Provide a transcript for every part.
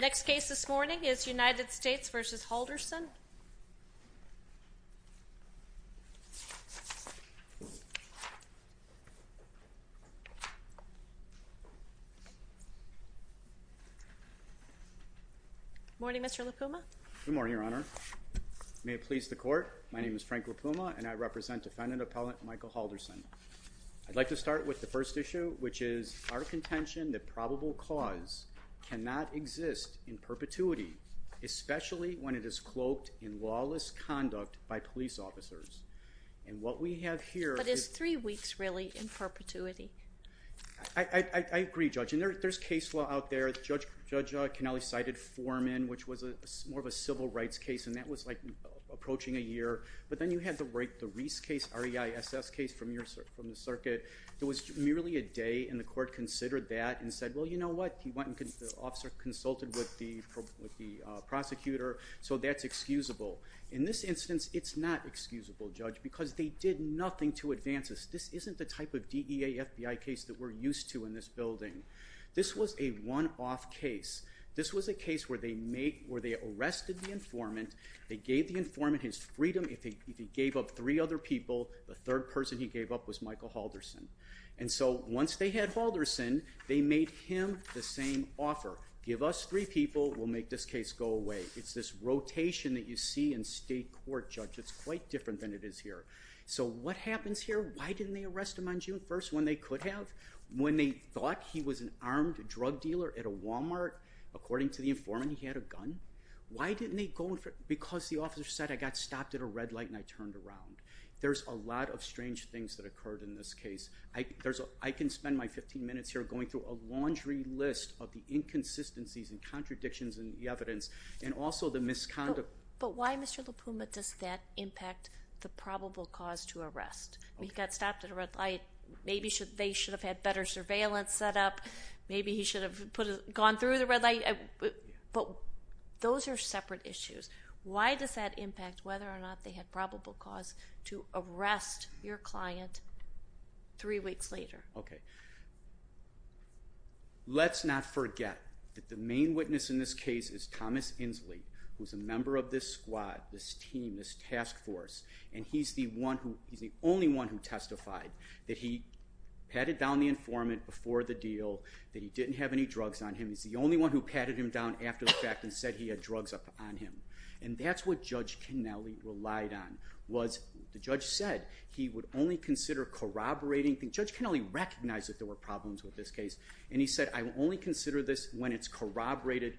Next case this morning is United States v. Haldorson. Good morning, Mr. LaPuma. Good morning, Your Honor. May it please the Court, my name is Frank LaPuma and I represent defendant-appellant Michael Haldorson. I'd like to start with the first issue, which is our contention that probable cause cannot exist in perpetuity, especially when it is cloaked in lawless conduct by police officers. And what we have here… But it's three weeks, really, in perpetuity. I agree, Judge. And there's case law out there. Judge Cannelli cited Foreman, which was more of a civil rights case, and that was like approaching a year. But then you have the Reiss case, R-E-I-S-S case from the circuit. It was merely a day, and the Court considered that and said, well, you know what? The officer consulted with the prosecutor, so that's excusable. In this instance, it's not excusable, Judge, because they did nothing to advance this. This isn't the type of DEA-FBI case that we're used to in this building. This was a one-off case. This was a case where they arrested the informant. They gave the informant his freedom. If he gave up three other people, the third person he gave up was Michael Halderson. And so once they had Halderson, they made him the same offer. Give us three people, we'll make this case go away. It's this rotation that you see in state court, Judge. It's quite different than it is here. So what happens here? Why didn't they arrest him on June 1st when they could have? When they thought he was an armed drug dealer at a Walmart? According to the informant, he had a gun. Why didn't they go in for it? Because the officer said, I got stopped at a red light and I turned around. There's a lot of strange things that occurred in this case. I can spend my 15 minutes here going through a laundry list of the inconsistencies and contradictions in the evidence and also the misconduct. But why, Mr. LaPuma, does that impact the probable cause to arrest? He got stopped at a red light. Maybe they should have had better surveillance set up. Maybe he should have gone through the red light. But those are separate issues. Why does that impact whether or not they had probable cause to arrest your client three weeks later? Let's not forget that the main witness in this case is Thomas Inslee, who is a member of this squad, this team, this task force. And he's the only one who testified that he patted down the informant before the deal, that he didn't have any drugs on him. He's the only one who patted him down after the fact and said he had drugs on him. And that's what Judge Kennelly relied on was the judge said he would only consider corroborating. Judge Kennelly recognized that there were problems with this case. And he said, I will only consider this when it's corroborated.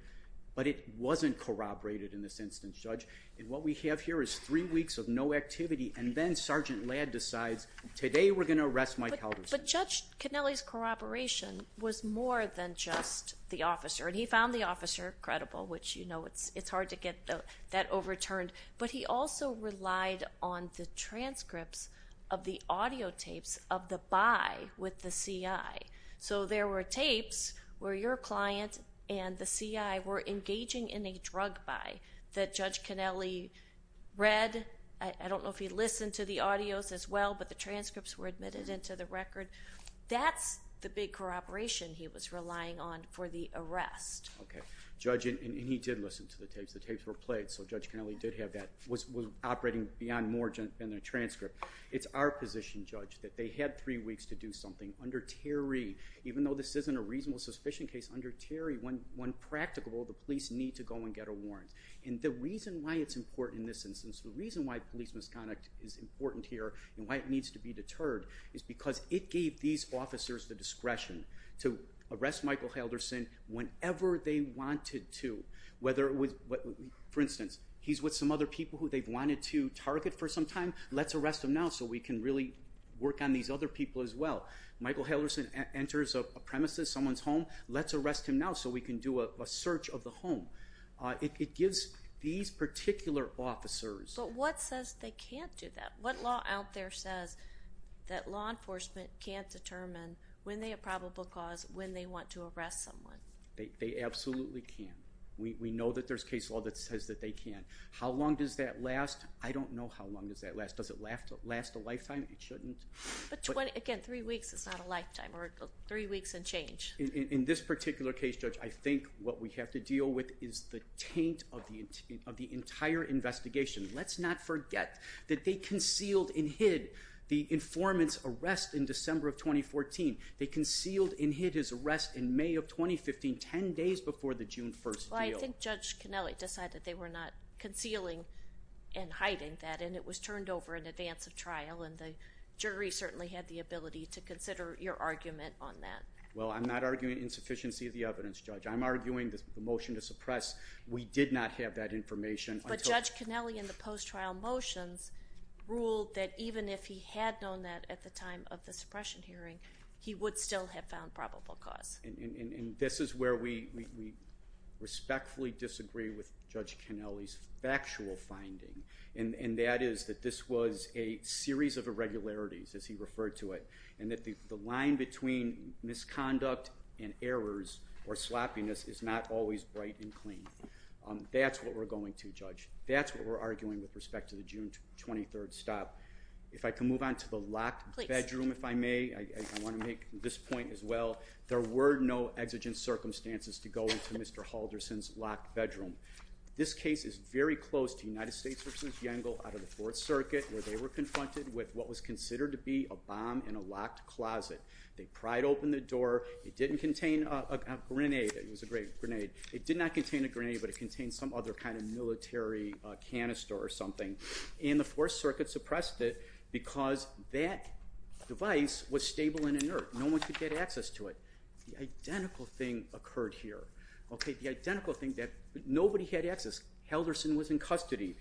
But it wasn't corroborated in this instance, Judge. And what we have here is three weeks of no activity. And then Sergeant Ladd decides, today we're going to arrest Mike Halverson. But Judge Kennelly's corroboration was more than just the officer. And he found the officer credible, which, you know, it's hard to get that overturned. But he also relied on the transcripts of the audio tapes of the buy with the CI. So there were tapes where your client and the CI were engaging in a drug buy that Judge Kennelly read. I don't know if he listened to the audios as well, but the transcripts were admitted into the record. That's the big corroboration he was relying on for the arrest. Okay. Judge, and he did listen to the tapes. The tapes were played, so Judge Kennelly did have that, was operating beyond more than the transcript. It's our position, Judge, that they had three weeks to do something. Under Terry, even though this isn't a reasonable suspicion case, under Terry, when practical, the police need to go and get a warrant. And the reason why it's important in this instance, the reason why police misconduct is important here and why it needs to be deterred is because it gave these officers the discretion to arrest Michael Halverson whenever they wanted to. For instance, he's with some other people who they've wanted to target for some time. Let's arrest him now so we can really work on these other people as well. Michael Halverson enters a premises, someone's home. Let's arrest him now so we can do a search of the home. It gives these particular officers. But what says they can't do that? What law out there says that law enforcement can't determine when they have probable cause, when they want to arrest someone? They absolutely can. We know that there's case law that says that they can. How long does that last? I don't know how long does that last. Does it last a lifetime? It shouldn't. Again, three weeks is not a lifetime, or three weeks and change. In this particular case, Judge, I think what we have to deal with is the taint of the entire investigation. Let's not forget that they concealed and hid the informant's arrest in December of 2014. They concealed and hid his arrest in May of 2015, 10 days before the June 1st deal. Well, I think Judge Canelli decided they were not concealing and hiding that, and it was turned over in advance of trial, and the jury certainly had the ability to consider your argument on that. Well, I'm not arguing insufficiency of the evidence, Judge. I'm arguing the motion to suppress, we did not have that information. But Judge Canelli, in the post-trial motions, ruled that even if he had known that at the time of the suppression hearing, he would still have found probable cause. And this is where we respectfully disagree with Judge Canelli's factual finding, and that is that this was a series of irregularities, as he referred to it, and that the line between misconduct and errors or sloppiness is not always bright and clean. That's what we're going to, Judge. That's what we're arguing with respect to the June 23rd stop. If I can move on to the locked bedroom, if I may. I want to make this point as well. There were no exigent circumstances to go into Mr. Halderson's locked bedroom. This case is very close to United States v. Yengel out of the Fourth Circuit, where they were confronted with what was considered to be a bomb in a locked closet. They pried open the door. It didn't contain a grenade. It was a great grenade. It did not contain a grenade, but it contained some other kind of military canister or something. And the Fourth Circuit suppressed it because that device was stable and inert. No one could get access to it. The identical thing occurred here, okay? The identical thing that nobody had access. Halderson was in custody.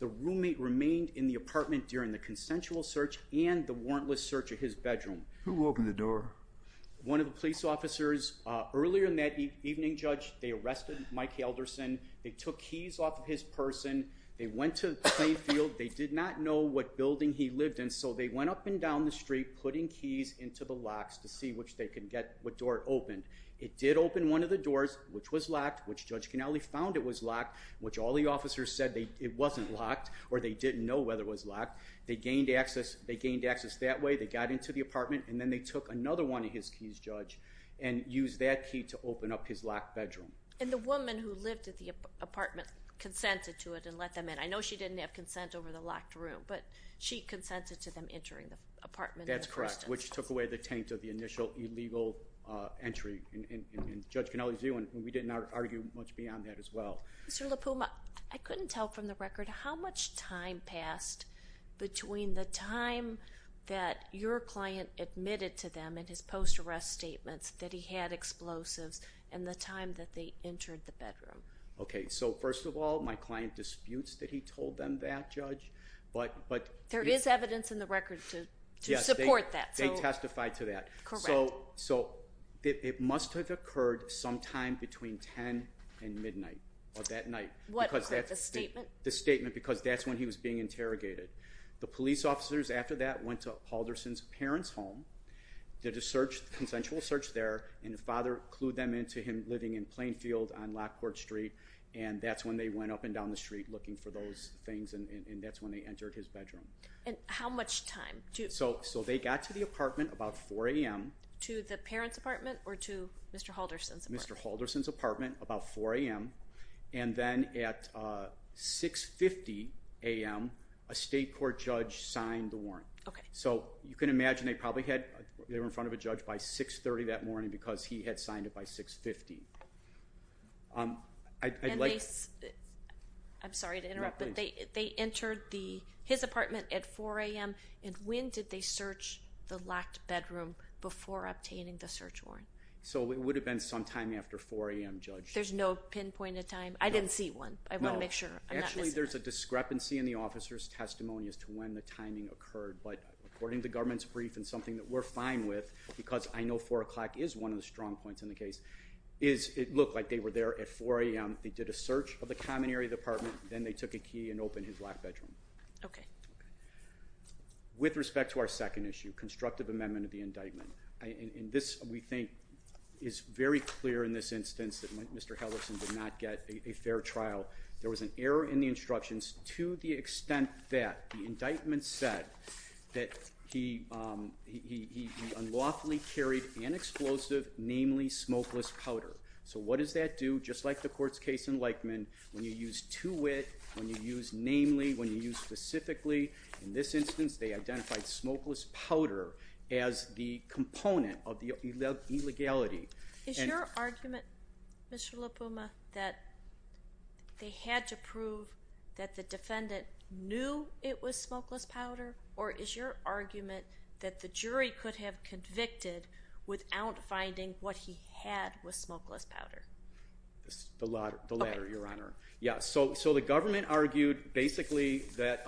The roommate remained in the apartment during the consensual search and the warrantless search of his bedroom. Who opened the door? One of the police officers. Earlier in that evening, Judge, they arrested Mike Halderson. They took keys off of his person. They went to the playing field. They did not know what building he lived in, so they went up and down the street, putting keys into the locks to see which they could get, what door it opened. It did open one of the doors, which was locked, which Judge Ganelli found it was locked, which all the officers said it wasn't locked or they didn't know whether it was locked. They gained access that way. They got into the apartment, and then they took another one of his keys, Judge, and used that key to open up his locked bedroom. And the woman who lived at the apartment consented to it and let them in. I know she didn't have consent over the locked room, but she consented to them entering the apartment. That's correct, which took away the taint of the initial illegal entry, and Judge Ganelli's view, and we didn't argue much beyond that as well. Mr. LaPuma, I couldn't tell from the record how much time passed between the time that your client admitted to them in his post-arrest statements that he had explosives and the time that they entered the bedroom. Okay, so first of all, my client disputes that he told them that, Judge. There is evidence in the record to support that. Yes, they testified to that. Correct. So it must have occurred sometime between 10 and midnight of that night. What was that, the statement? The statement, because that's when he was being interrogated. The police officers after that went to Paulderson's parents' home, did a search, consensual search there, and the father clued them into him living in Plainfield on Lockport Street, and that's when they went up and down the street looking for those things, and that's when they entered his bedroom. And how much time? So they got to the apartment about 4 a.m. To the parents' apartment or to Mr. Paulderson's apartment? Mr. Paulderson's apartment about 4 a.m., and then at 6.50 a.m. a state court judge signed the warrant. So you can imagine they probably were in front of a judge by 6.30 that morning because he had signed it by 6.50. And they, I'm sorry to interrupt, but they entered his apartment at 4 a.m., and when did they search the locked bedroom before obtaining the search warrant? So it would have been sometime after 4 a.m., Judge. There's no pinpointed time? I didn't see one. I want to make sure. Actually, there's a discrepancy in the officer's testimony as to when the timing occurred, but according to the government's brief and something that we're fine with, because I know 4 o'clock is one of the strong points in the case, is it looked like they were there at 4 a.m., they did a search of the common area of the apartment, then they took a key and opened his locked bedroom. Okay. With respect to our second issue, constructive amendment of the indictment, and this, we think, is very clear in this instance that Mr. Paulderson did not get a fair trial. There was an error in the instructions to the extent that the indictment said that he unlawfully carried an explosive, namely smokeless powder. So what does that do? Just like the court's case in Lykman, when you use to wit, when you use namely, when you use specifically, in this instance they identified smokeless powder as the component of the illegality. Is your argument, Mr. Lipuma, that they had to prove that the defendant knew it was smokeless powder, or is your argument that the jury could have convicted without finding what he had was smokeless powder? The latter, Your Honor. Yeah, so the government argued basically that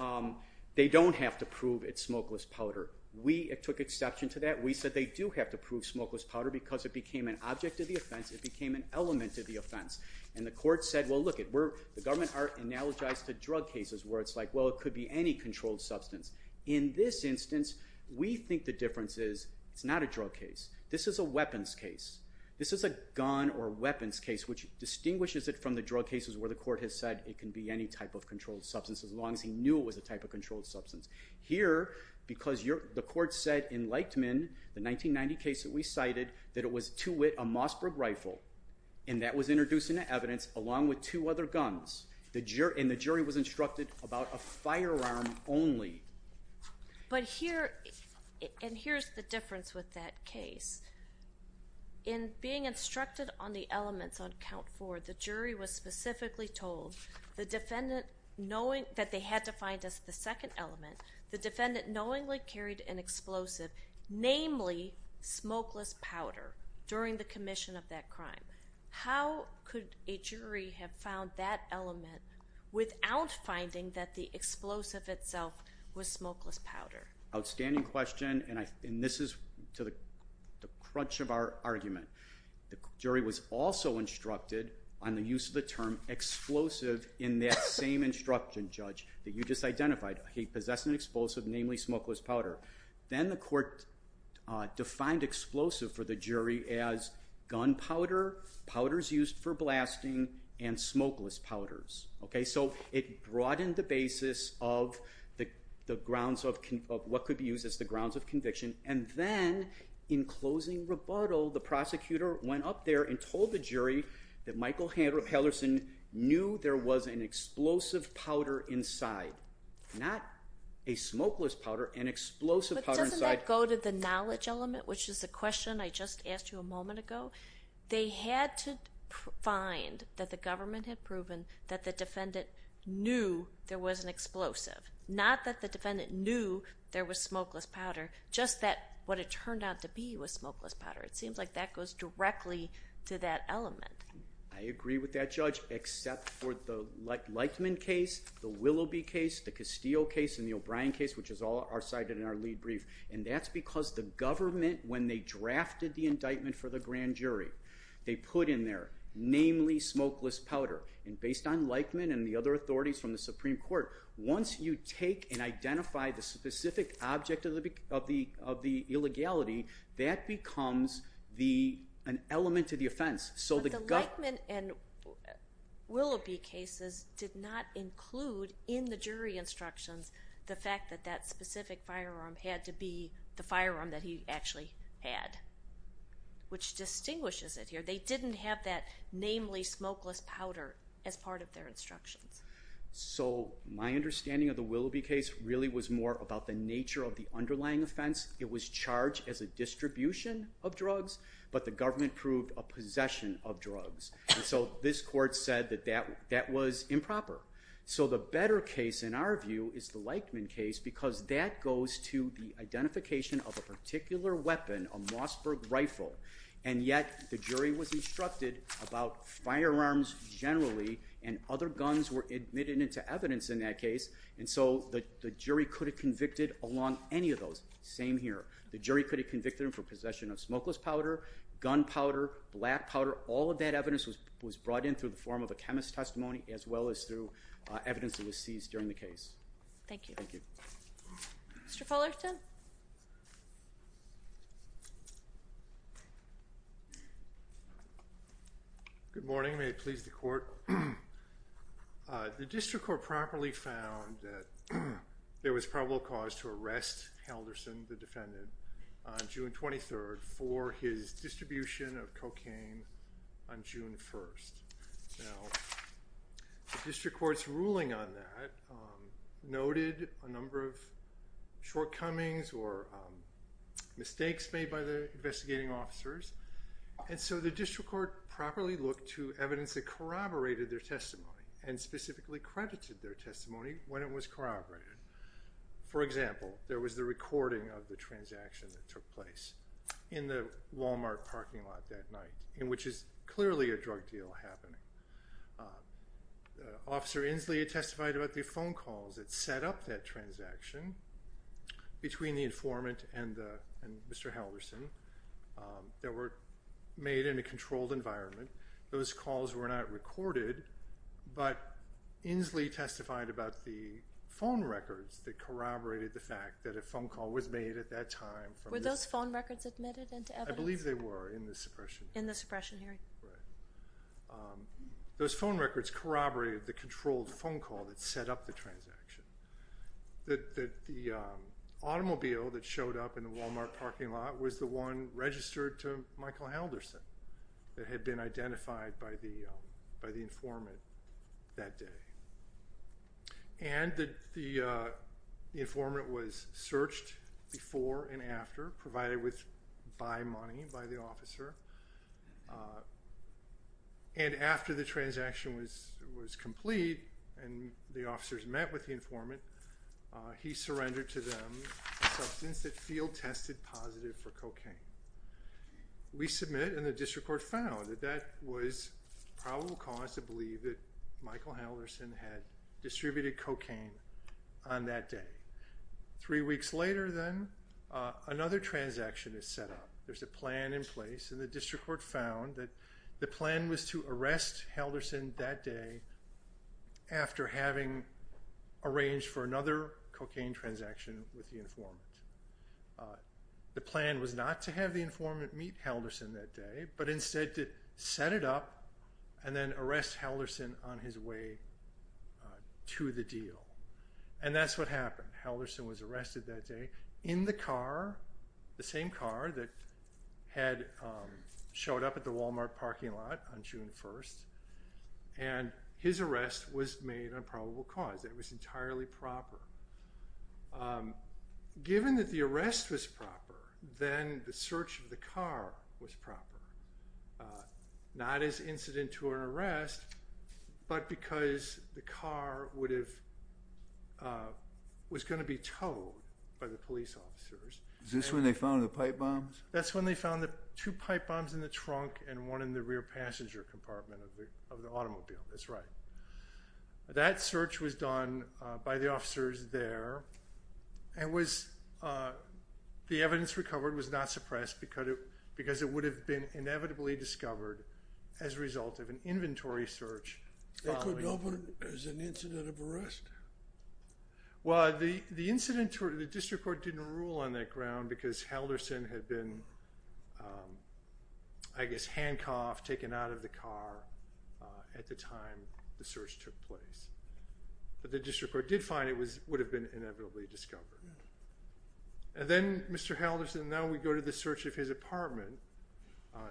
they don't have to prove it's smokeless powder. We took exception to that. We said they do have to prove smokeless powder because it became an object of the offense. It became an element of the offense. And the court said, well, look, the government are analogized to drug cases where it's like, well, it could be any controlled substance. In this instance, we think the difference is it's not a drug case. This is a weapons case. This is a gun or weapons case, which distinguishes it from the drug cases where the court has said it can be any type of controlled substance as long as he knew it was a type of controlled substance. Here, because the court said in Lightman, the 1990 case that we cited, that it was, to wit, a Mossberg rifle, and that was introduced into evidence along with two other guns, and the jury was instructed about a firearm only. But here, and here's the difference with that case. In being instructed on the elements on count four, the jury was specifically told, that they had to find just the second element, the defendant knowingly carried an explosive, namely smokeless powder, during the commission of that crime. How could a jury have found that element without finding that the explosive itself was smokeless powder? Outstanding question, and this is to the crunch of our argument. The jury was also instructed on the use of the term explosive in that same instruction, Judge, that you just identified. He possessed an explosive, namely smokeless powder. Then the court defined explosive for the jury as gun powder, powders used for blasting, and smokeless powders. Okay, so it broadened the basis of what could be used as the grounds of conviction, and then, in closing rebuttal, the prosecutor went up there and told the jury that Michael Henderson knew there was an explosive powder inside, not a smokeless powder, an explosive powder inside. But doesn't that go to the knowledge element, which is the question I just asked you a moment ago? They had to find that the government had proven that the defendant knew there was an explosive, not that the defendant knew there was smokeless powder, just that what it turned out to be was smokeless powder. It seems like that goes directly to that element. I agree with that, Judge, except for the Lightman case, the Willoughby case, the Castillo case, and the O'Brien case, which is all our side in our lead brief. And that's because the government, when they drafted the indictment for the grand jury, they put in there, namely, smokeless powder. And based on Lightman and the other authorities from the Supreme Court, once you take and identify the specific object of the illegality, that becomes an element to the offense. But the Lightman and Willoughby cases did not include in the jury instructions the fact that that specific firearm had to be the firearm that he actually had, which distinguishes it here. They didn't have that, namely, smokeless powder as part of their instructions. So my understanding of the Willoughby case really was more about the nature of the underlying offense. It was charged as a distribution of drugs, but the government proved a possession of drugs. And so this court said that that was improper. So the better case, in our view, is the Lightman case because that goes to the identification of a particular weapon, a Mossberg rifle, and yet the jury was instructed about firearms generally and other guns were admitted into evidence in that case, and so the jury could have convicted along any of those. Same here. The jury could have convicted him for possession of smokeless powder, gunpowder, black powder. All of that evidence was brought in through the form of a chemist's testimony as well as through evidence that was seized during the case. Thank you. Thank you. Thank you. Good morning. May it please the court. The district court properly found that there was probable cause to arrest Helderson, the defendant, on June 23rd for his distribution of cocaine on June 1st. Now, the district court's ruling on that noted a number of shortcomings or mistakes made by the investigating officers, and so the district court properly looked to evidence that corroborated their testimony and specifically credited their testimony when it was corroborated. For example, there was the recording of the transaction that took place in the Walmart parking lot that night, which is clearly a drug deal happening. Officer Inslee testified about the phone calls that set up that transaction between the informant and Mr. Helderson that were made in a controlled environment. Those calls were not recorded, but Inslee testified about the phone records that corroborated the fact that a phone call was made at that time. Were those phone records admitted into evidence? I believe they were in the suppression hearing. In the suppression hearing. Right. Those phone records corroborated the controlled phone call that set up the transaction, that the automobile that showed up in the Walmart parking lot was the one registered to Michael Helderson that had been identified by the informant that day, and the informant was searched before and after, provided by money by the officer, and after the transaction was complete and the officers met with the informant, he surrendered to them a substance that field-tested positive for cocaine. We submit, and the district court found, that that was probable cause to believe that Michael Helderson had distributed cocaine on that day. Three weeks later, then, another transaction is set up. There's a plan in place, and the district court found that the plan was to arrest Helderson that day after having arranged for another cocaine transaction with the informant. The plan was not to have the informant meet Helderson that day, but instead to set it up and then arrest Helderson on his way to the deal. And that's what happened. Helderson was arrested that day in the car, the same car that had showed up at the Walmart parking lot on June 1st, and his arrest was made on probable cause. It was entirely proper. Given that the arrest was proper, then the search of the car was proper. Not as incident to an arrest, but because the car was going to be towed by the police officers. Is this when they found the pipe bombs? That's when they found two pipe bombs in the trunk and one in the rear passenger compartment of the automobile. That's right. One by the officers there, and the evidence recovered was not suppressed because it would have been inevitably discovered as a result of an inventory search. They couldn't open it as an incident of arrest? Well, the district court didn't rule on that ground because Helderson had been, I guess, handcuffed, taken out of the car at the time the search took place. But the district court did find it would have been inevitably discovered. And then Mr. Helderson, now we go to the search of his apartment.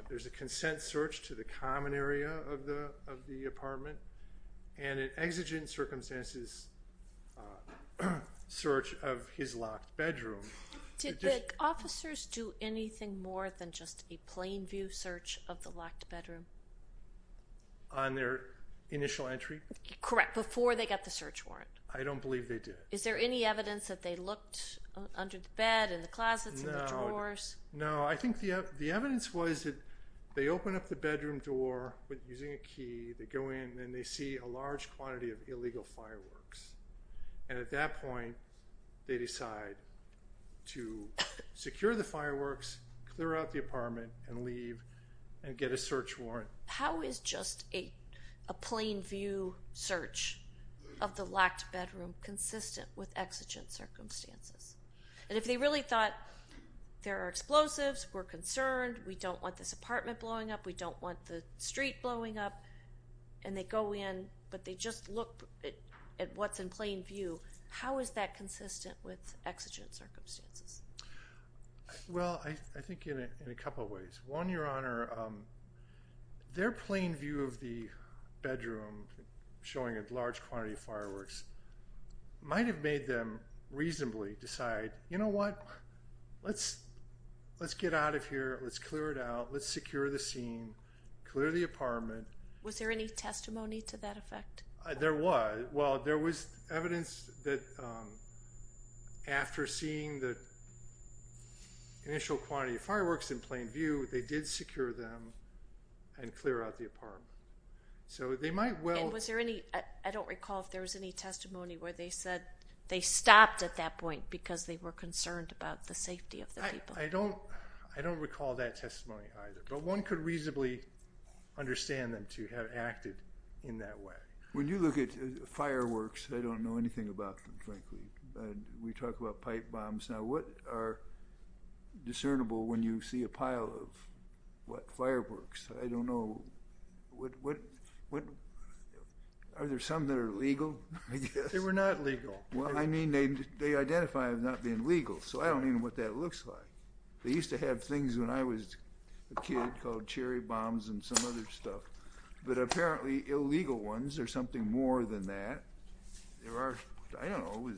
There's a consent search to the common area of the apartment and an exigent circumstances search of his locked bedroom. Did the officers do anything more than just a plain view search of the locked bedroom? On their initial entry? Correct, before they got the search warrant. I don't believe they did. Is there any evidence that they looked under the bed, in the closets, in the drawers? No. No, I think the evidence was that they open up the bedroom door using a key. They go in, and they see a large quantity of illegal fireworks. And at that point, they decide to secure the fireworks, clear out the apartment, and leave and get a search warrant. How is just a plain view search of the locked bedroom consistent with exigent circumstances? And if they really thought there are explosives, we're concerned, we don't want this apartment blowing up, we don't want the street blowing up, and they go in, but they just look at what's in plain view, how is that consistent with exigent circumstances? Well, I think in a couple of ways. One, Your Honor, their plain view of the bedroom showing a large quantity of fireworks might have made them reasonably decide, you know what, let's get out of here, let's clear it out, let's secure the scene, clear the apartment. Was there any testimony to that effect? There was. Well, there was evidence that after seeing the initial quantity of fireworks in plain view, they did secure them and clear out the apartment. So they might well... And was there any, I don't recall if there was any testimony where they said they stopped at that point because they were concerned about the safety of the people. I don't recall that testimony either. But one could reasonably understand them to have acted in that way. When you look at fireworks, I don't know anything about them, frankly. We talk about pipe bombs. Now, what are discernible when you see a pile of, what, fireworks? I don't know. Are there some that are legal, I guess? They were not legal. Well, I mean, they identify as not being legal, so I don't know what that looks like. They used to have things when I was a kid called cherry bombs and some other stuff. But apparently illegal ones are something more than that. There are, I don't know,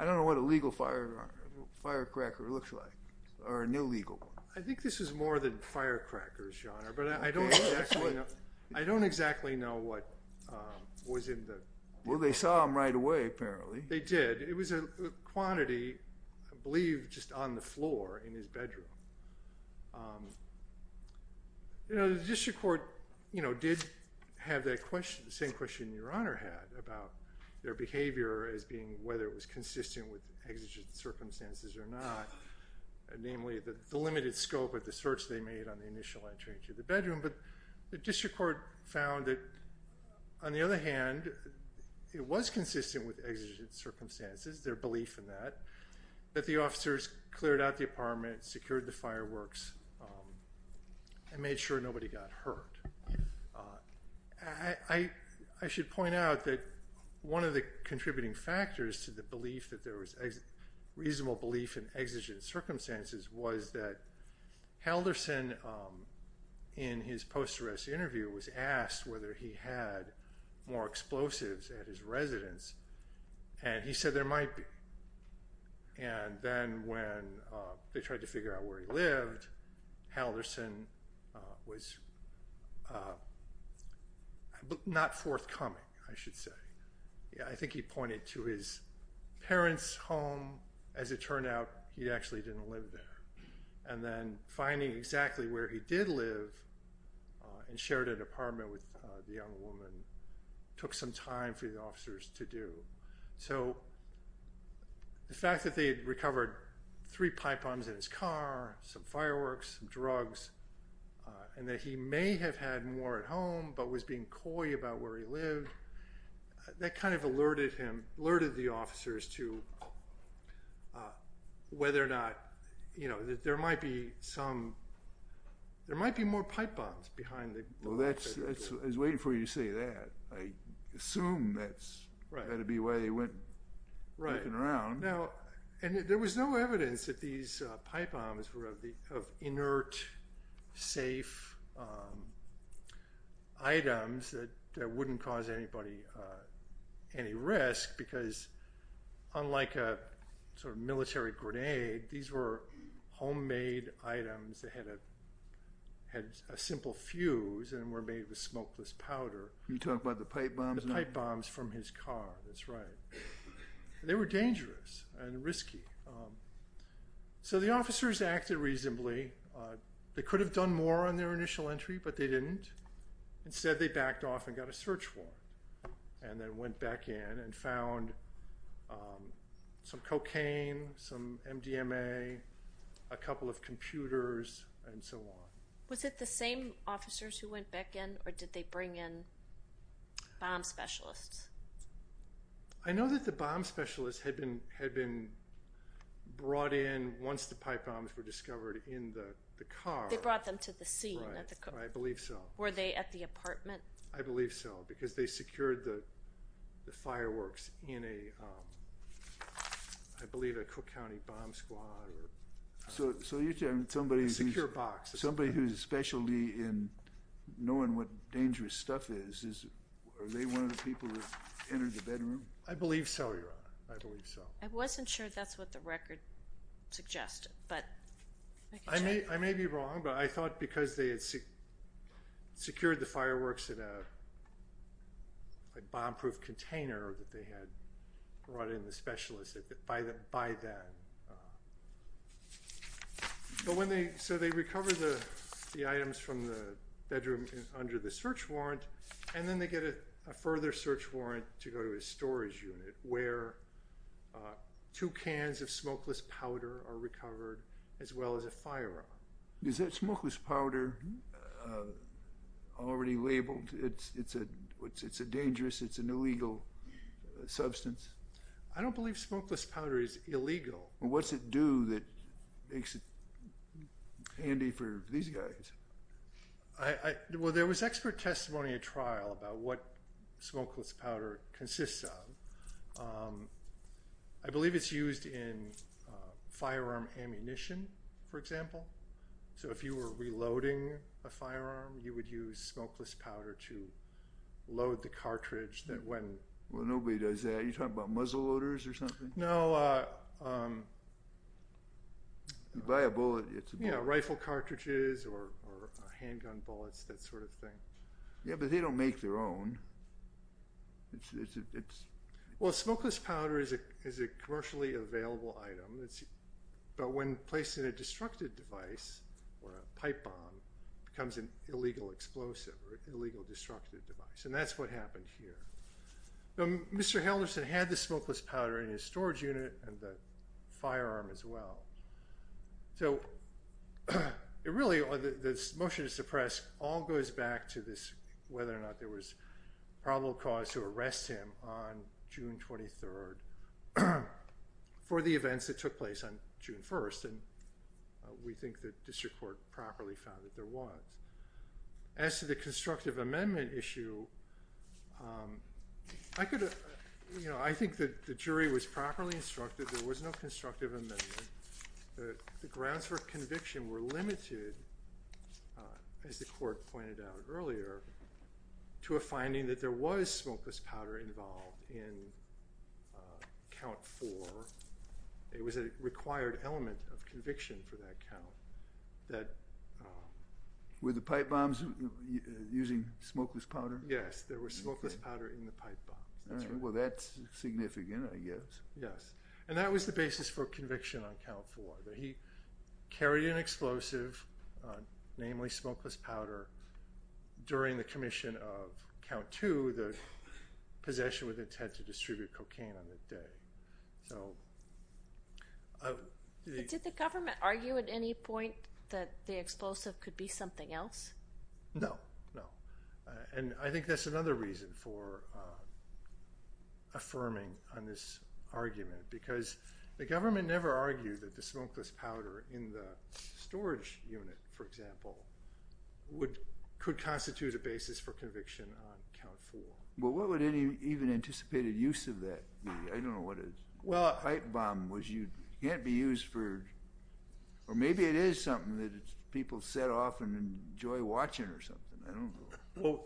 I don't know what a legal firecracker looks like or an illegal one. I think this is more than firecrackers, John, but I don't exactly know what was in the... Well, they saw them right away, apparently. They did. It was a quantity, I believe, just on the floor in his bedroom. You know, the district court, you know, did have that same question your Honor had about their behavior as being whether it was consistent with exigent circumstances or not, namely the limited scope of the search they made on the initial entry into the bedroom. But the district court found that, on the other hand, it was consistent with exigent circumstances, their belief in that, that the officers cleared out the apartment, secured the fireworks, and made sure nobody got hurt. I should point out that one of the contributing factors to the belief that there was reasonable belief in exigent circumstances was that Halderson, in his post-arrest interview, was asked whether he had more explosives at his residence. And he said there might be. And then when they tried to figure out where he lived, Halderson was not forthcoming, I should say. I think he pointed to his parents' home. As it turned out, he actually didn't live there. And then finding exactly where he did live and shared an apartment with the young woman took some time for the officers to do. So the fact that they had recovered three pipe bombs in his car, some fireworks, some drugs, and that he may have had more at home but was being coy about where he lived, that kind of alerted him, alerted the officers to whether or not, you know, that there might be some, there might be more pipe bombs behind the building. So that's, I was waiting for you to say that. I assume that's, that would be why they went looking around. Right. Now, and there was no evidence that these pipe bombs were of inert, safe items that wouldn't cause anybody any risk because, unlike a sort of military grenade, these were homemade items that had a simple fuse and were made with smokeless powder. You're talking about the pipe bombs? The pipe bombs from his car, that's right. They were dangerous and risky. So the officers acted reasonably. They could have done more on their initial entry, but they didn't. Instead, they backed off and got a search warrant and then went back in and found some cocaine, some MDMA, a couple of computers, and so on. Was it the same officers who went back in, or did they bring in bomb specialists? I know that the bomb specialists had been brought in once the pipe bombs were discovered in the car. They brought them to the scene. Right, I believe so. Were they at the apartment? I believe so, because they secured the fireworks in a, I believe, a Cook County bomb squad or a secure box. Somebody whose specialty in knowing what dangerous stuff is, are they one of the people that entered the bedroom? I believe so, Your Honor. I believe so. I wasn't sure that's what the record suggested. I may be wrong, but I thought because they had secured the fireworks in a bomb-proof container that they had brought in the specialists by then. So they recovered the items from the bedroom under the search warrant, and then they get a further search warrant to go to a storage unit where two cans of smokeless powder are recovered, as well as a firearm. Is that smokeless powder already labeled? It's a dangerous, it's an illegal substance? I don't believe smokeless powder is illegal. What's it do that makes it handy for these guys? Well, there was expert testimony at trial about what smokeless powder consists of. I believe it's used in firearm ammunition, for example. So if you were reloading a firearm, you would use smokeless powder to load the cartridge. Well, nobody does that. Are you talking about muzzle loaders or something? No. You buy a bullet, it's a bullet. Yeah, rifle cartridges or handgun bullets, that sort of thing. Yeah, but they don't make their own. Well, smokeless powder is a commercially available item, but when placed in a destructive device or a pipe bomb, it becomes an illegal explosive or illegal destructive device, and that's what happened here. Mr. Henderson had the smokeless powder in his storage unit and the firearm as well. So really, this motion to suppress all goes back to this, whether or not there was probable cause to arrest him on June 23rd for the events that took place on June 1st, and we think the district court properly found that there was. As to the constructive amendment issue, I think the jury was properly instructed. There was no constructive amendment. The grounds for conviction were limited, as the court pointed out earlier, to a finding that there was smokeless powder involved in Count 4. It was a required element of conviction for that count. Were the pipe bombs using smokeless powder? Yes, there was smokeless powder in the pipe bombs. Well, that's significant, I guess. Yes, and that was the basis for conviction on Count 4. He carried an explosive, namely smokeless powder, during the commission of Count 2, possession with intent to distribute cocaine on that day. Did the government argue at any point that the explosive could be something else? No, no, and I think that's another reason for affirming on this argument because the government never argued that the smokeless powder in the storage unit, for example, could constitute a basis for conviction on Count 4. Well, what would any even anticipated use of that be? I don't know what a pipe bomb was. You can't be used for, or maybe it is something that people set off and enjoy watching or something. I don't know. Well,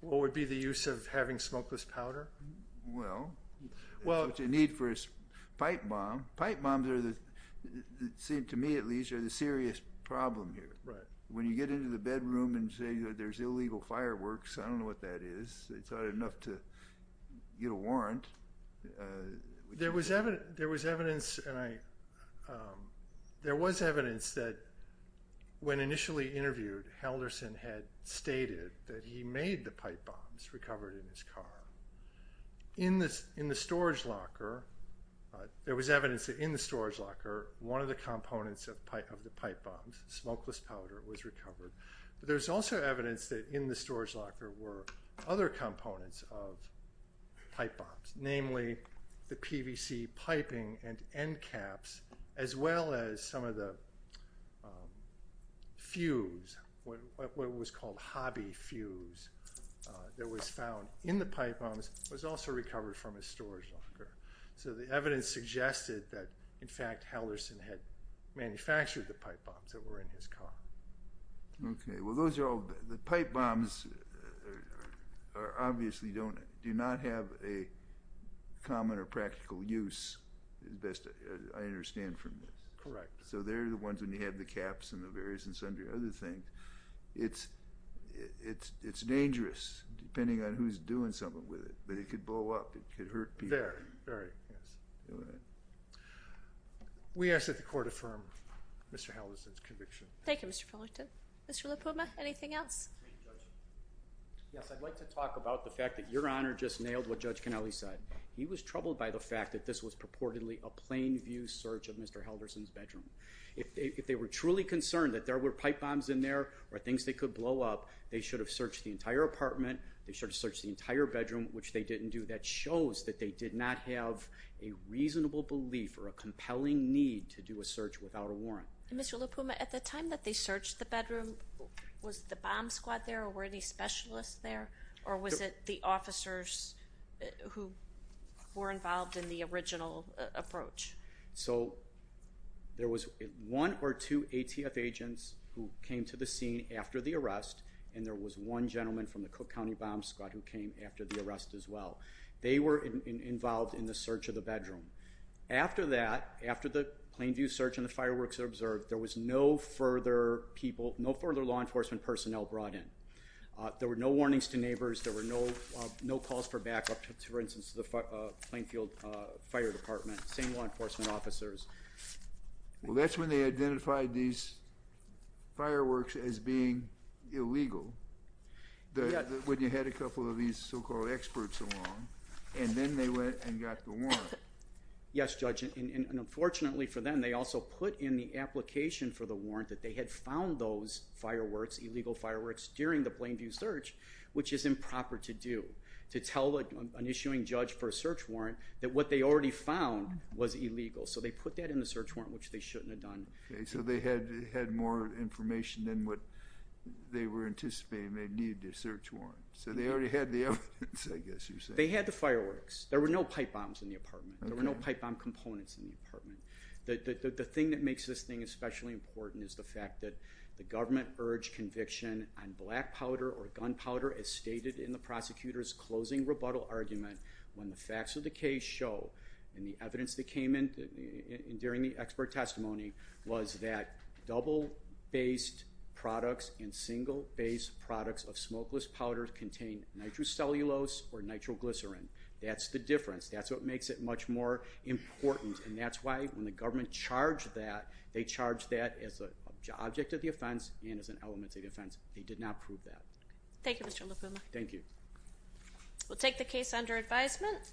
what would be the use of having smokeless powder? Well, that's what you need for a pipe bomb. Pipe bombs, to me at least, are the serious problem here. Right. When you get into the bedroom and say there's illegal fireworks, I don't know what that is. It's not enough to get a warrant. There was evidence that when initially interviewed, Halderson had stated that he made the pipe bombs recovered in his car. In the storage locker, there was evidence that in the storage locker, one of the components of the pipe bombs, smokeless powder, was recovered. But there's also evidence that in the storage locker were other components of pipe bombs, namely the PVC piping and end caps, as well as some of the fuse, what was called hobby fuse, that was found in the pipe bombs was also recovered from his storage locker. So the evidence suggested that, in fact, Halderson had manufactured the pipe bombs that were in his car. Okay. Well, the pipe bombs obviously do not have a common or practical use, as best I understand from this. Correct. So they're the ones when you have the caps and the various incendiary other things. It's dangerous, depending on who's doing something with it. But it could blow up. It could hurt people. Very, very. Yes. All right. We ask that the Court affirm Mr. Halderson's conviction. Thank you, Mr. Fullerton. Mr. LaPuma, anything else? Yes, I'd like to talk about the fact that Your Honor just nailed what Judge Cannelli said. He was troubled by the fact that this was purportedly a plain view search of Mr. Halderson's bedroom. If they were truly concerned that there were pipe bombs in there or things they could blow up, they should have searched the entire apartment, they should have searched the entire bedroom, which they didn't do. That shows that they did not have a reasonable belief or a compelling need to do a search without a warrant. Mr. LaPuma, at the time that they searched the bedroom, was the bomb squad there or were any specialists there, or was it the officers who were involved in the original approach? So there was one or two ATF agents who came to the scene after the arrest, and there was one gentleman from the Cook County bomb squad who came after the arrest as well. They were involved in the search of the bedroom. After that, after the plain view search and the fireworks were observed, there was no further law enforcement personnel brought in. There were no warnings to neighbors. There were no calls for backup to, for instance, the Plainfield Fire Department. Same law enforcement officers. Well, that's when they identified these fireworks as being illegal, when you had a couple of these so-called experts along, and then they went and got the warrant. Yes, Judge, and unfortunately for them, they also put in the application for the warrant that they had found those fireworks, illegal fireworks, during the plain view search, which is improper to do, to tell an issuing judge for a search warrant that what they already found was illegal. So they put that in the search warrant, which they shouldn't have done. Okay, so they had more information than what they were anticipating they needed to search warrant. So they already had the evidence, I guess you're saying. They had the fireworks. There were no pipe bombs in the apartment. There were no pipe bomb components in the apartment. The thing that makes this thing especially important is the fact that the government urged conviction on black powder or gunpowder as stated in the prosecutor's closing rebuttal argument when the facts of the case show and the evidence that came in during the expert testimony was that double-based products and single-based products of smokeless powders contain nitrocellulose or nitroglycerin. That's the difference. That's what makes it much more important, and that's why when the government charged that, they charged that as an object of the offense and as an element of the offense. They did not prove that. Thank you, Mr. Lupuma. Thank you. We'll take the case under advisement.